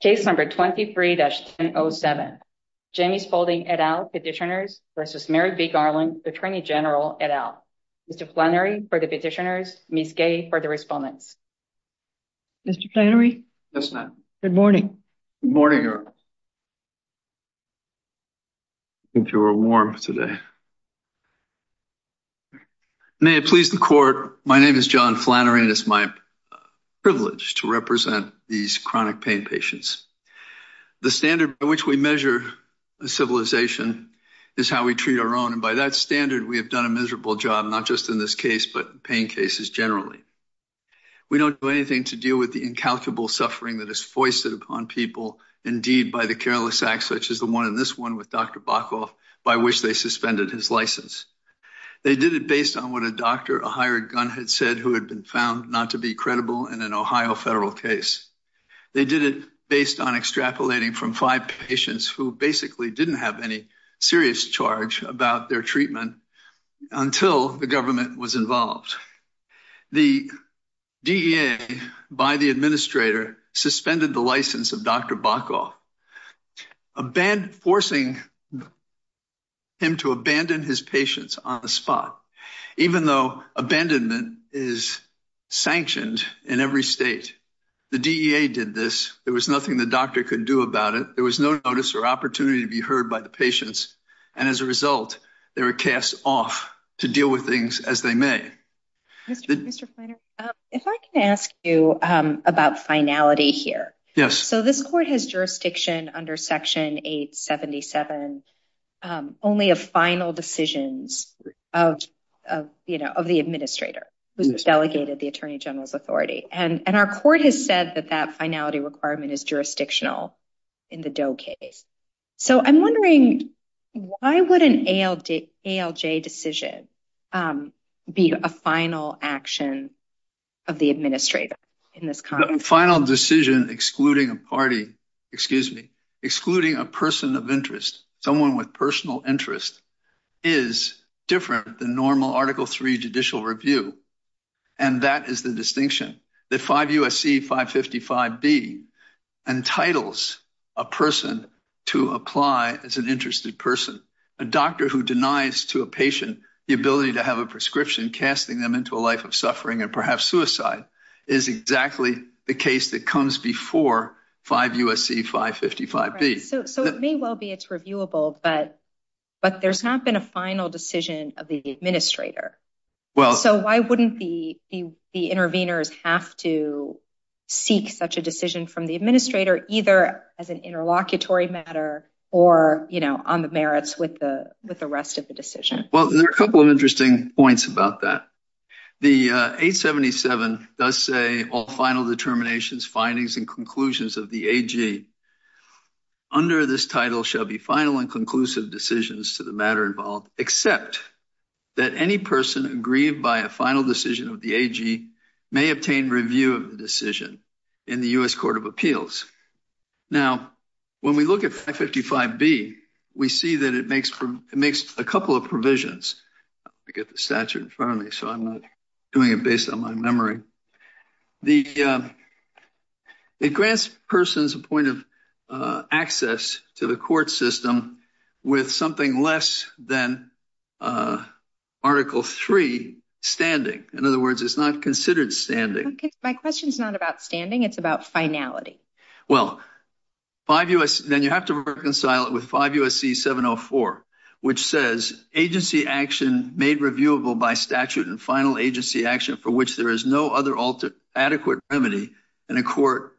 Case number 23-1007, Gemi Spaulding, et al, Petitioners v. Merrick B. Garland, Attorney General, et al. Mr. Flannery for the Petitioners, Ms. Gay for the Respondents. Mr. Flannery? Yes, ma'am. Good morning. Good morning. I think you're warm today. May it please the court. My name is John Flannery and it's my privilege to represent these chronic pain patients. The standard by which we measure a civilization is how we treat our own. And by that standard, we have done a miserable job, not just in this case, but pain cases generally. We don't do anything to deal with the incalculable suffering that is foisted upon people indeed by the careless acts, such as the one in this one with Dr. Bokhoff, by which they suspended his license. They did it based on what a doctor, a hired gun had said, who had been found not to be credible in an Ohio federal case. They did it based on extrapolating from five patients who basically didn't have any serious charge about their treatment until the government was involved. The DEA, by the administrator, suspended the license of Dr. Bokhoff, forcing him to abandon his patients on the spot, even though abandonment is sanctioned in every state. The DEA did this. There was nothing the doctor could do about it. There was no notice or opportunity to be heard by the patients. And as a result, they were cast off to deal with things as they may. If I can ask you about finality here. Yes. So this court has jurisdiction under section 877, only a final decisions of, you know, of the administrator who's delegated the attorney general's authority. And our court has said that that finality requirement is jurisdictional in the Doe case. So I'm wondering why would an ALJ decision be a final action of the administrator in this context? Final decision, excluding a party, excuse me, excluding a person of article three judicial review. And that is the distinction that 5 U.S.C. 555B entitles a person to apply as an interested person. A doctor who denies to a patient the ability to have a prescription, casting them into a life of suffering and perhaps suicide is exactly the case that comes before 5 U.S.C. 555B. So it may well be it's reviewable, but there's not been a final decision of the administrator. Well, so why wouldn't the interveners have to seek such a decision from the administrator, either as an interlocutory matter or, you know, on the merits with the rest of the decision? Well, there are a couple of interesting points about that. The 877 does say all final determinations, findings, and conclusions of the AG under this title shall be final and conclusive decisions to the matter involved, except that any person aggrieved by a final decision of the AG may obtain review of the decision in the U.S. Court of Appeals. Now, when we look at 555B, we see that it makes a couple of provisions. I get the statute in front of me, so I'm not doing it based on my memory. The, it grants persons a point of access to the court system with something less than Article III standing. In other words, it's not considered standing. My question is not about standing. It's about finality. Well, then you have to reconcile it with 5 U.S.C. 704, which says agency action made reviewable by statute and final agency action for which there is no other adequate remedy in a court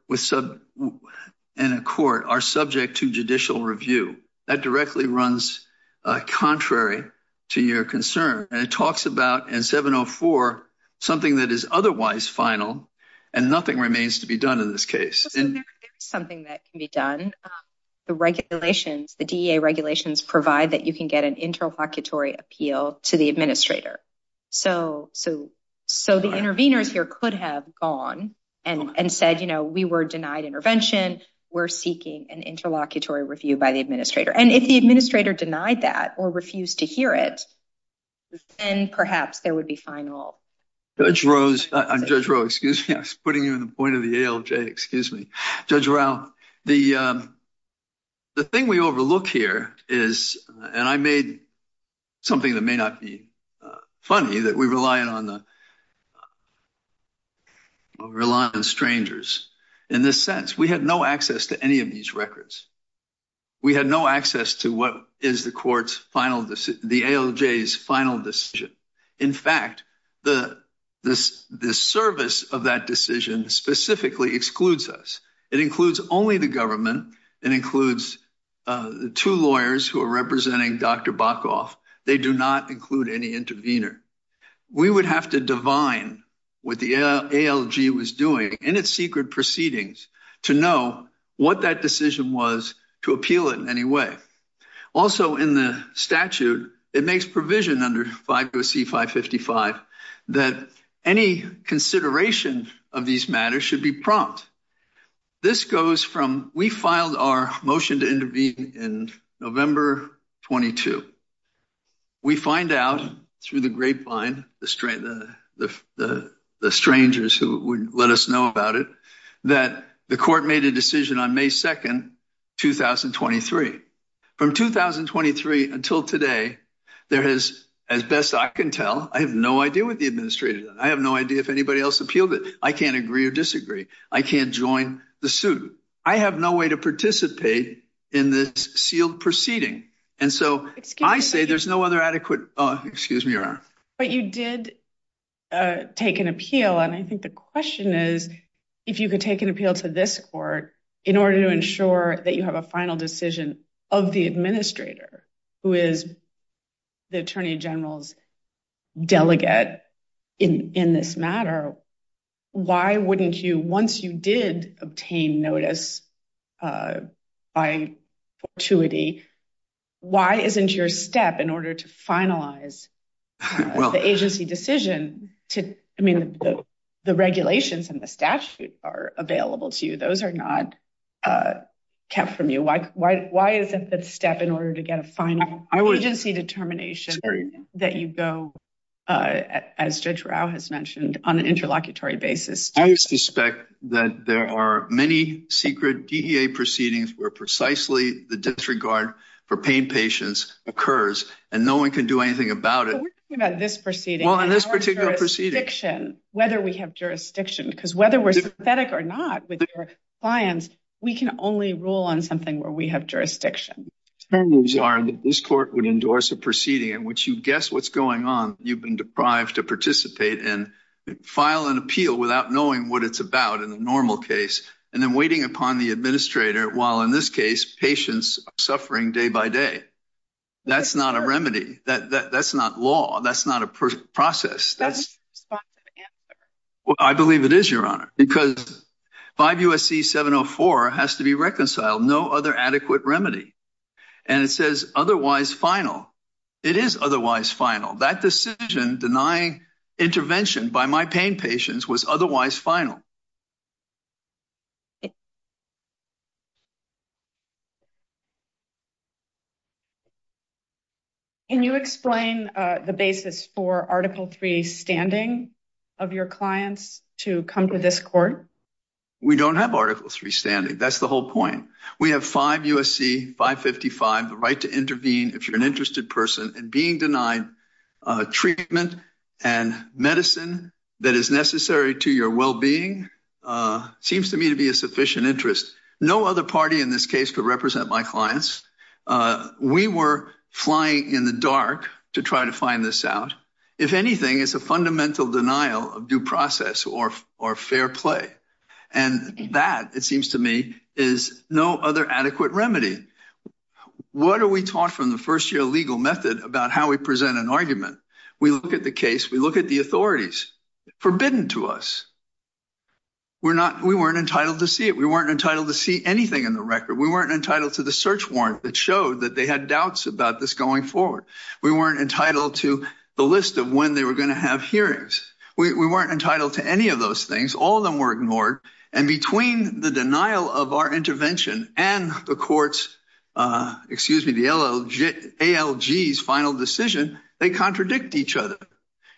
are subject to judicial review. That directly runs contrary to your concern. And it talks about in 704, something that is otherwise final and nothing remains to be done in this case. So there is something that can be done. The regulations, the DEA regulations provide that you can get an interlocutory appeal to the administrator. So, so, so the intervenors here could have gone and, and said, you know, we were denied intervention. We're seeking an interlocutory review by the administrator. And if the administrator denied that or refused to hear it, then perhaps there would be final. Judge Rowe, I'm Judge Rowe, excuse me. I was putting you in the point of the ALJ, excuse me. Judge Rowe, the, um, the thing we overlook here is, and I made something that may not be funny that we rely on the, rely on strangers in this sense. We had no access to any of these records. We had no access to what is the court's final decision, the ALJ's final decision. In fact, the, the, the service of that decision specifically excludes us. It includes only the government. It includes the two lawyers who are representing Dr. Bokoff. They do not include any intervenor. We would have to divine what the ALJ was doing in its secret proceedings to know what that decision was to appeal it in any way. Also in the statute, it makes provision under 50C555 that any consideration of these matters should be prompt. This goes from, we filed our motion to intervene in November 22. We find out through the grapevine, the strangers who would let us know about it, that the court made a decision on May 2nd, 2023. From 2023 until today, there has, as best I can tell, I have no idea what the administrator, I have no idea if anybody else appealed it. I can't agree or disagree. I can't join the suit. I have no way to participate in this sealed proceeding. And so I say there's no other adequate, excuse me, Your Honor. But you did take an appeal. And I think the question is, if you could take an appeal to this court in order to ensure that you have a final decision of the administrator, who is the attorney general's delegate in this matter, why wouldn't you, once you did obtain notice by fortuity, why isn't your step in order to finalize the agency decision to, I mean, the regulations and the statute are available to you. Those are not kept from you. Why, why, why isn't that step in order to get a final agency determination that you go, as Judge Rao has mentioned, on an interlocutory basis? I suspect that there are many secret DEA proceedings where precisely the disregard for pain patients occurs and no one can do anything about it. But we're talking about this proceeding. Well, in this particular proceeding. Whether we have jurisdiction, because whether we're sympathetic or not with your clients, we can only rule on something where we have jurisdiction. The terms are that this court would endorse a proceeding in which you guess what's going on, you've been deprived to participate and file an appeal without knowing what it's about in the normal case, and then waiting upon the administrator while in this case, patients are suffering day by day. That's not a remedy. That, that, that's not law. That's not a process. That's, well, I believe it is, Your Honor, because 5 USC 704 has to be reconciled, no other adequate remedy. And it says otherwise final. It is otherwise final. That decision denying intervention by my pain patients was otherwise final. Can you explain the basis for article three standing of your clients to come to this court? We don't have article three standing. That's the whole point. We have 5 USC 555, the right to intervene if you're an interested person and being denied treatment and medicine that is necessary to your wellbeing seems to me to be a sufficient interest. No other party in this case could represent my clients. We were flying in the dark to try to find this out. If anything, it's a fundamental denial of due process or, or fair play. And that it seems to me is no other adequate remedy. What are we taught from the first year legal method about how we present an argument, we look at the case, we look at the authorities forbidden to us. We're not, we weren't entitled to see it. We weren't entitled to see anything in the record. We weren't entitled to the search warrant that showed that they had doubts about this going forward. We weren't entitled to the list of when they were going to have hearings. We weren't entitled to any of those things. All of them were ignored. And between the denial of our intervention and the courts excuse me, the ALG final decision, they contradict each other.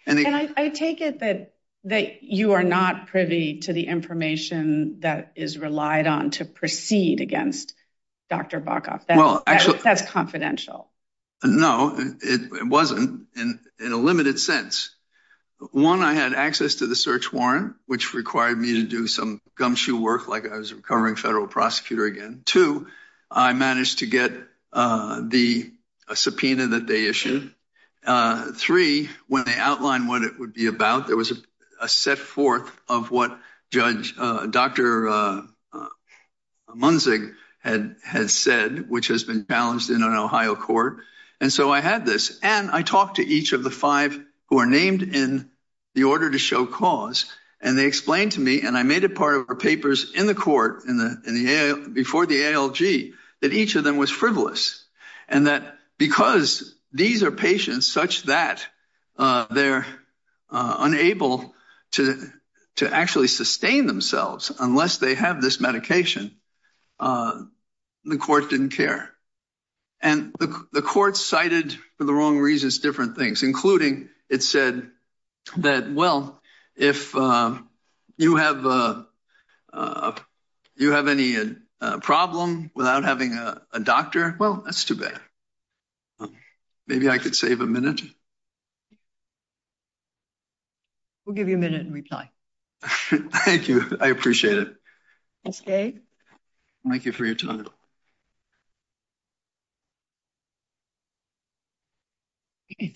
And I take it that that you are not privy to the information that is relied on to proceed against Dr. Bacoff. That's confidential. No, it wasn't in a limited sense. One, I had access to the search warrant, which required me to do some gumshoe work, like I was a recovering federal prosecutor again. Two, I managed to get the subpoena that they issued. Three, when they outlined what it would be about, there was a set forth of what Judge Dr. Munzig had said, which has been balanced in an Ohio court. And so I had this. And I talked to each of the five who are named in the order to show cause. And they explained to me, and I made it part of our papers in the court before the ALG, that each of them was frivolous and that because these are patients such that they're unable to actually sustain themselves unless they have this medication, the court didn't care. And the court cited, for the wrong reasons, different things, including it said that, well, if you have any problem without having a doctor, well, that's too bad. Maybe I could save a minute. We'll give you a minute and reply. Thank you. I appreciate it. Thanks, Gabe. Thank you for your time. Thank you.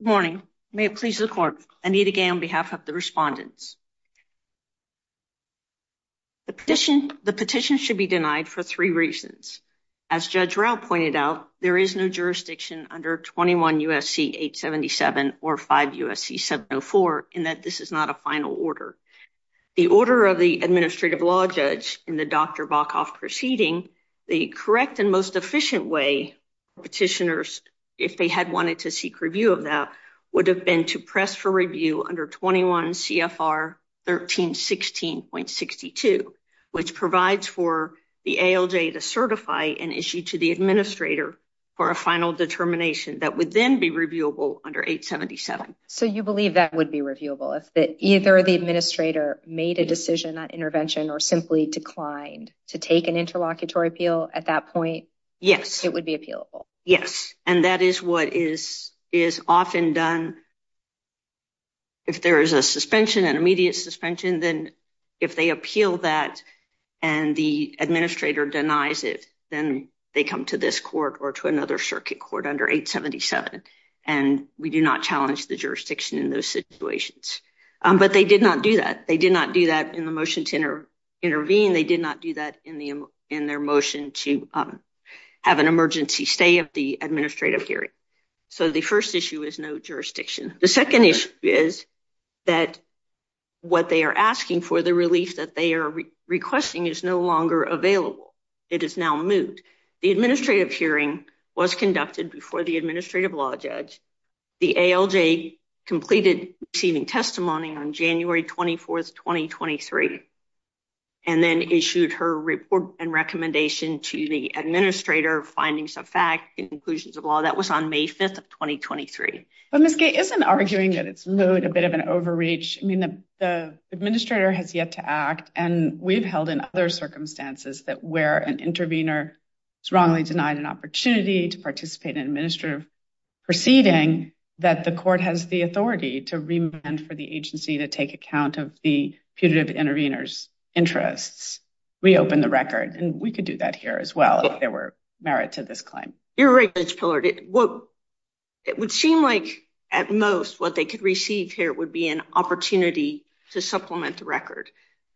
Morning. May it please the court, Anita Gay on behalf of the respondents. The petition, the petition should be denied for three reasons. As Judge Rao pointed out, there is no jurisdiction under 21 USC 877 or 5 USC 704 in that this is not a final order. The order of the administrative law judge in the Dr. Bokhoff proceeding, the correct and most efficient way petitioners, if they had wanted to seek review of that, would have been to press for review under 21 CFR 1316.62, which provides for the ALJ to certify an issue to the administrator for a final determination that would then be under 877. So you believe that would be reviewable if that either the administrator made a decision on intervention or simply declined to take an interlocutory appeal at that point? Yes, it would be appealable. Yes. And that is what is, is often done. If there is a suspension and immediate suspension, then if they appeal that and the administrator denies it, then they come to this court or to another circuit court under 877. And we do not challenge the jurisdiction in those situations. But they did not do that. They did not do that in the motion to intervene. They did not do that in the, in their motion to have an emergency stay of the administrative hearing. So the first issue is no jurisdiction. The second issue is that what they are asking for the relief that they are requesting is no longer available. It is now moved. The administrative hearing was conducted before the administrative law judge. The ALJ completed receiving testimony on January 24th, 2023, and then issued her report and recommendation to the administrator findings of fact and conclusions of law that was on May 5th of 2023. But Ms. Gay isn't arguing that it's moot, a bit of an overreach. I mean, the administrator has yet to act and we've held in other circumstances that where an intervener is wrongly denied an opportunity to participate in administrative proceeding, that the court has the authority to remand for the agency to take account of the putative intervener's interests, reopen the record. And we could do that here as well, if there were merit to this claim. You're right, Judge Pillard. It would seem like at most what they could receive here would be an opportunity to supplement the record.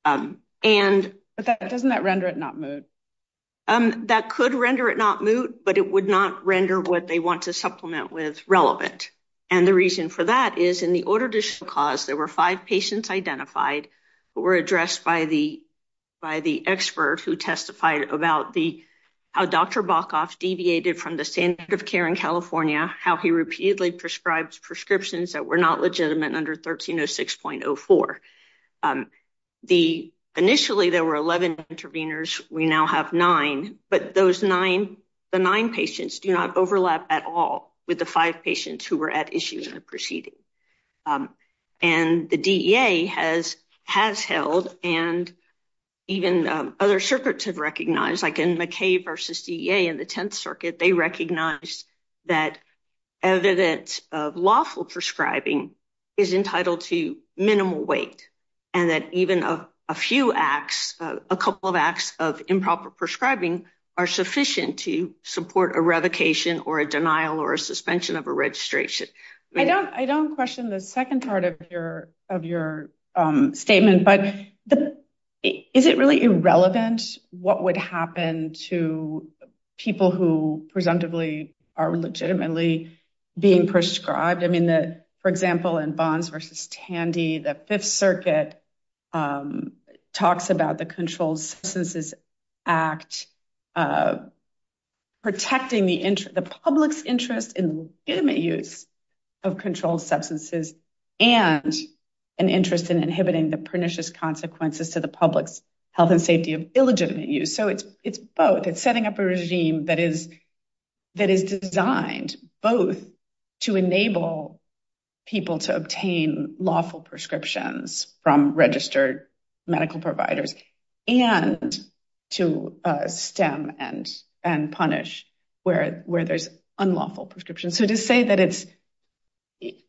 But doesn't that render it not moot? That could render it not moot, but it would not render what they want to supplement with relevant. And the reason for that is in the order to show cause, there were five patients identified who were addressed by the expert who testified about how Dr. Bokhoff deviated from the standard of care in California, how he repeatedly prescribed prescriptions that were not legitimate under 1306.04. Initially, there were 11 interveners. We now have nine, but the nine patients do not overlap at all with the five patients who were at issue in the proceeding. And the DEA has held, and even other circuits have recognized, like in McKay versus DEA in the Tenth Circuit, they recognized that evidence of lawful prescribing is entitled to minimal weight, and that even a few acts, a couple of acts of improper prescribing are sufficient to support a revocation or a denial or a suspension of a registration. I don't question the second part of your statement, but is it really irrelevant what would happen to people who presumptively are legitimately being prescribed? For example, in Bonds versus Tandy, the Fifth Circuit talks about the Controlled Substances Act protecting the public's interest in the legitimate use of controlled substances and an interest in inhibiting the pernicious consequences to the public's health and safety of illegitimate use. So it's both. It's setting up a regime that is designed both to enable people to obtain lawful prescriptions from registered medical providers and to stem and punish where there's unlawful prescriptions. So to say that it's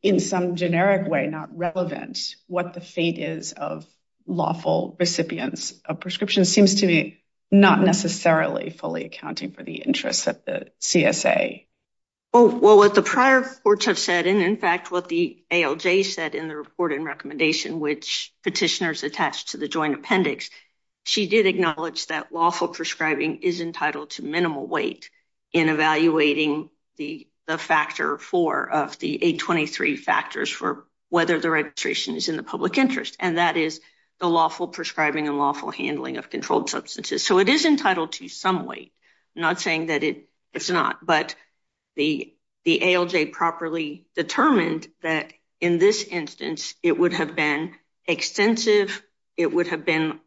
in some generic way not relevant what the fate is of lawful recipients of prescriptions seems to be not necessarily fully accounting for the interests of the CSA. Well, what the prior reports have said, and in fact, what the ALJ said in the report and recommendation, which petitioners attached to the joint appendix, she did acknowledge that lawful prescribing is entitled to minimal weight in evaluating the factor four of the 823 factors for whether the prescribing and lawful handling of controlled substances. So it is entitled to some weight, not saying that it's not, but the ALJ properly determined that in this instance, it would have been extensive, it would have been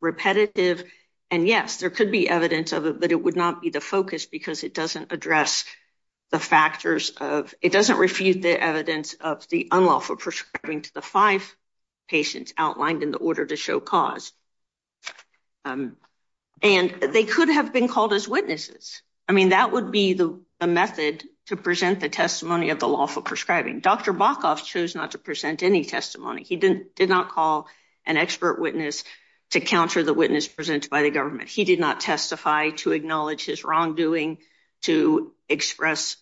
repetitive, and yes, there could be evidence of it, but it would not be the focus because it doesn't address the factors of, it doesn't refute the evidence of the unlawful prescribing to the five patients outlined in the order to show cause, and they could have been called as witnesses. I mean, that would be the method to present the testimony of the lawful prescribing. Dr. Bokoff chose not to present any testimony. He did not call an expert witness to counter the witness presented by the government. He did not testify to acknowledge his wrongdoing, to express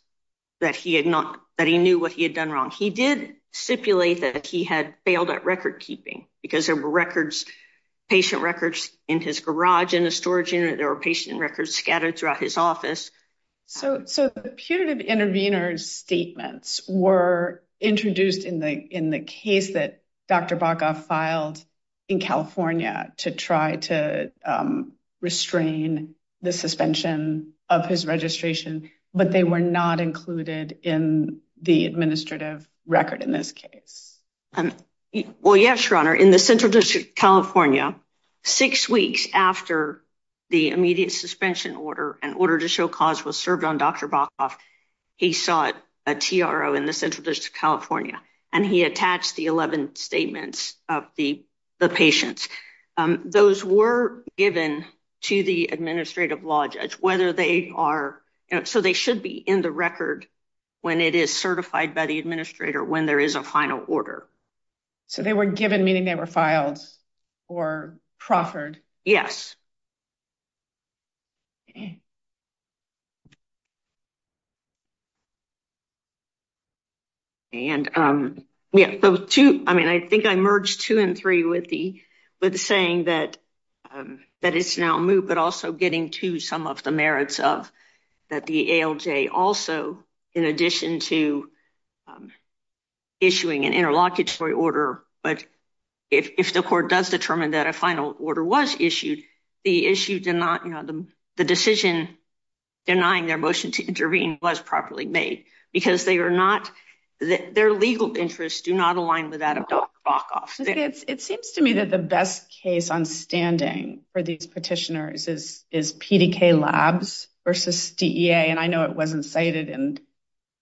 that he knew what he had done wrong. He did stipulate that he had failed at record keeping because there were records, patient records in his garage, in the storage unit, there were patient records scattered throughout his office. So the putative intervenor's statements were introduced in the case that Dr. Bokoff filed in California to try to restrain the suspension of his administrative record in this case. Well, yes, Your Honor, in the Central District of California, six weeks after the immediate suspension order, an order to show cause was served on Dr. Bokoff, he sought a TRO in the Central District of California, and he attached the 11 statements of the patients. Those were given to the administrative law judge, whether they are, so they should be in the record when it is certified by the administrator, when there is a final order. So they were given, meaning they were filed or proffered? Yes. And yeah, so two, I mean, I think I merged two and three with the, with the saying that, that it's now moved, but also getting to some of the merits of that the ALJ also, in addition to issuing an interlocutory order, but if the court does determine that a final order was issued, the issue did not, you know, the decision denying their motion to intervene was properly made because they are not, their legal interests do not align with that of Dr. Bokoff. It seems to me that the best case on standing for these petitioners is, is versus DEA, and I know it wasn't cited in,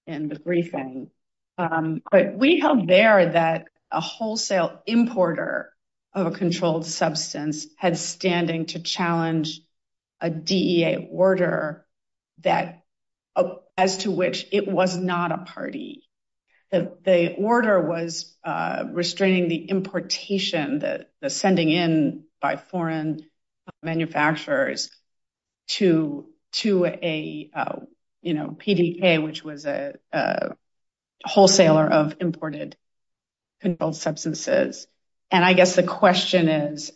in the briefing, but we held there that a wholesale importer of a controlled substance had standing to challenge a DEA order that, as to which it was not a party, that the order was restraining the importation that the sending in by foreign manufacturers to, to a, you know, PDK, which was a wholesaler of imported controlled substances. And I guess the question is,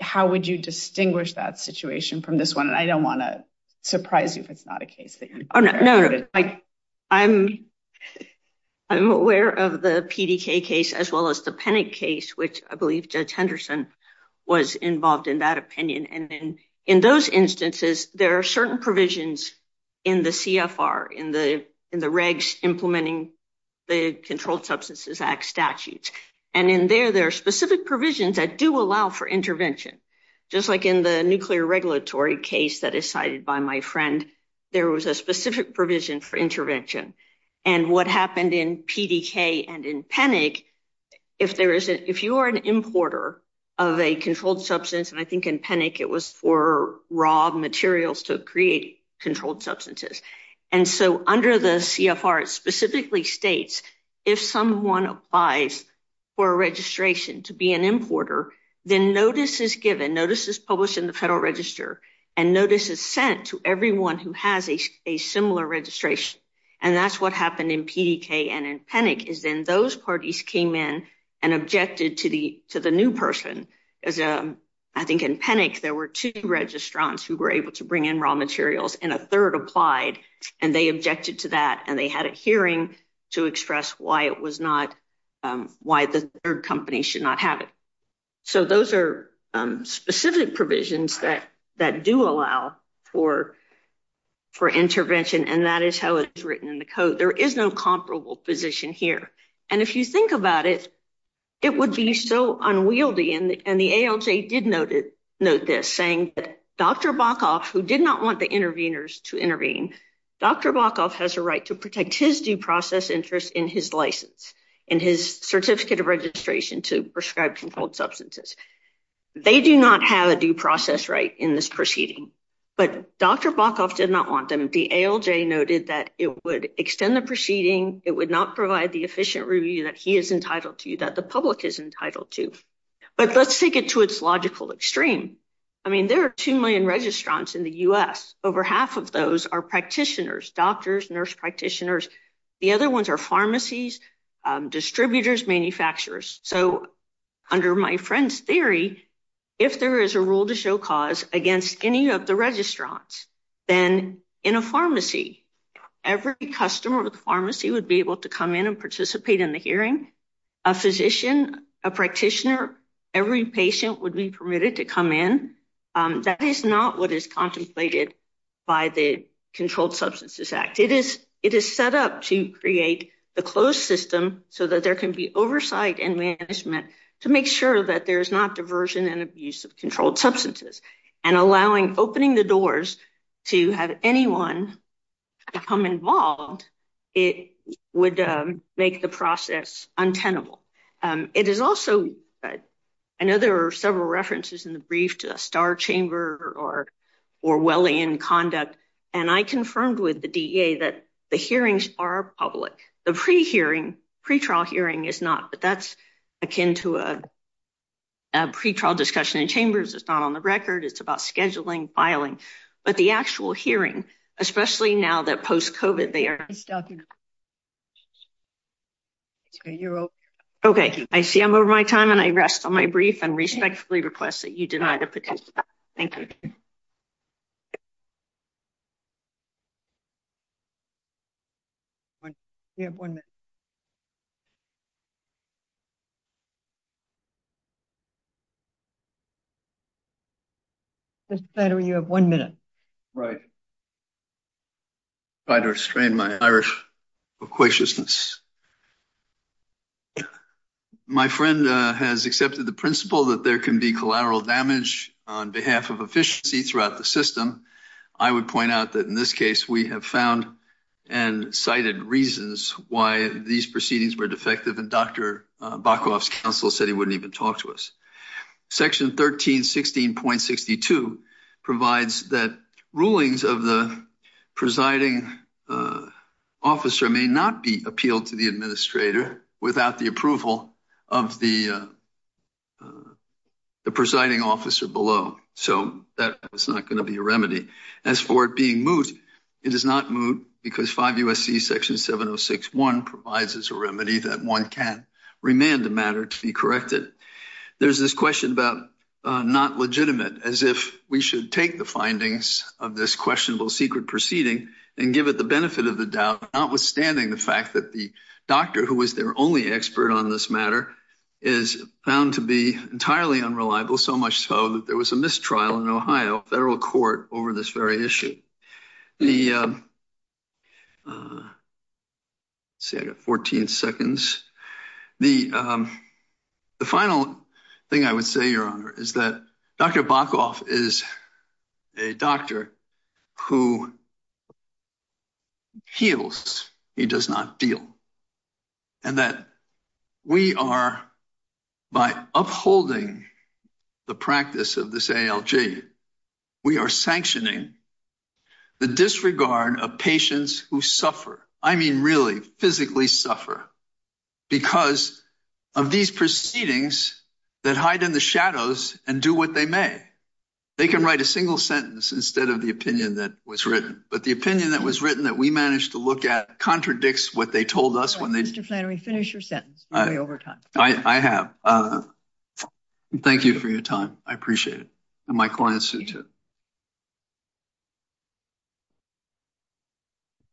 how would you distinguish that situation from this one? And I don't want to surprise you if it's not a case that you're aware of. There is a case, which I believe Judge Henderson was involved in that opinion. And then in those instances, there are certain provisions in the CFR, in the, in the regs implementing the Controlled Substances Act statutes. And in there, there are specific provisions that do allow for intervention. Just like in the nuclear regulatory case that is cited by my friend, there was a specific provision for intervention and what happened in PDK and in PENIC, if there is, if you are an importer of a controlled substance, and I think in PENIC, it was for raw materials to create controlled substances. And so under the CFR, it specifically states, if someone applies for a registration to be an importer, then notice is given, notice is published in the federal register and notice is sent to everyone who has a similar registration. And that's what happened in PDK and in PENIC is then those parties came in and objected to the, to the new person. As I think in PENIC, there were two registrants who were able to bring in raw materials and a third applied and they objected to that and they had a hearing to express why it was not, why the third company should not have it. So those are specific provisions that, that do allow for, for intervention. And that is how it's written in the code. There is no comparable position here. And if you think about it, it would be so unwieldy. And the ALJ did note it, note this, saying that Dr. Bokhoff, who did not want the interveners to intervene, Dr. Bokhoff has a right to protect his due process interest in his license, in his certificate of registration to prescribe controlled substances. They do not have a due process right in this proceeding, but Dr. Bokhoff did not want them. The ALJ noted that it would extend the proceeding. It would not provide the efficient review that he is entitled to, that the public is entitled to. But let's take it to its logical extreme. I mean, there are 2 million registrants in the US. Over half of those are practitioners, doctors, nurse practitioners. The other ones are pharmacies, distributors, manufacturers. So under my friend's theory, if there is a rule to show cause against would be able to come in and participate in the hearing, a physician, a practitioner, every patient would be permitted to come in. That is not what is contemplated by the Controlled Substances Act. It is, it is set up to create the closed system so that there can be oversight and management to make sure that there is not diversion and abuse of controlled substances and allowing, opening the doors to have anyone become involved. It would make the process untenable. It is also, I know there are several references in the brief to a star chamber or Orwellian conduct, and I confirmed with the DEA that the hearings are public, the pre-hearing, pre-trial hearing is not, but that's akin to a pre-trial discussion in chambers. It's not on the record. It's about scheduling, filing, but the actual hearing, especially now that post-COVID, they are, okay. I see I'm over my time and I rest on my brief and respectfully request that you deny the petition. Thank you. You have one minute. Mr. Flattery, you have one minute. Right. Try to restrain my Irish equatiousness. My friend has accepted the principle that there can be collateral damage on behalf of efficiency throughout the system. I would point out that in this case, we have found and cited reasons why these proceedings were defective. And Dr. Bacoff's counsel said he wouldn't even talk to us. Section 13, 16.62 provides that rulings of the presiding officer may not be appealed to the administrator without the approval of the presiding officer below. So that is not going to be a remedy. As for it being moot, it is not moot because 5 USC section 706.1 provides us a remedy that one can remand the matter to be corrected. There's this question about not legitimate as if we should take the findings of this questionable secret proceeding and give it the benefit of the doubt, notwithstanding the fact that the doctor who was their only expert on this matter is found to be entirely unreliable, so much so that there was a mistrial in Ohio federal court over this very issue. The, uh, uh, say I got 14 seconds. The, um, the final thing I would say, your honor, is that Dr. Bacoff is a doctor who heals. He does not deal. And that we are, by upholding the practice of this ALG, we are sanctioning the disregard of patients who suffer. I mean, really physically suffer because of these proceedings that hide in the shadows and do what they may. They can write a single sentence instead of the opinion that was written, but the opinion that was written, that we managed to look at contradicts what they told us. When they, Mr. Flannery, finish your sentence. I have, uh, thank you for your time. I appreciate it. And my clients too.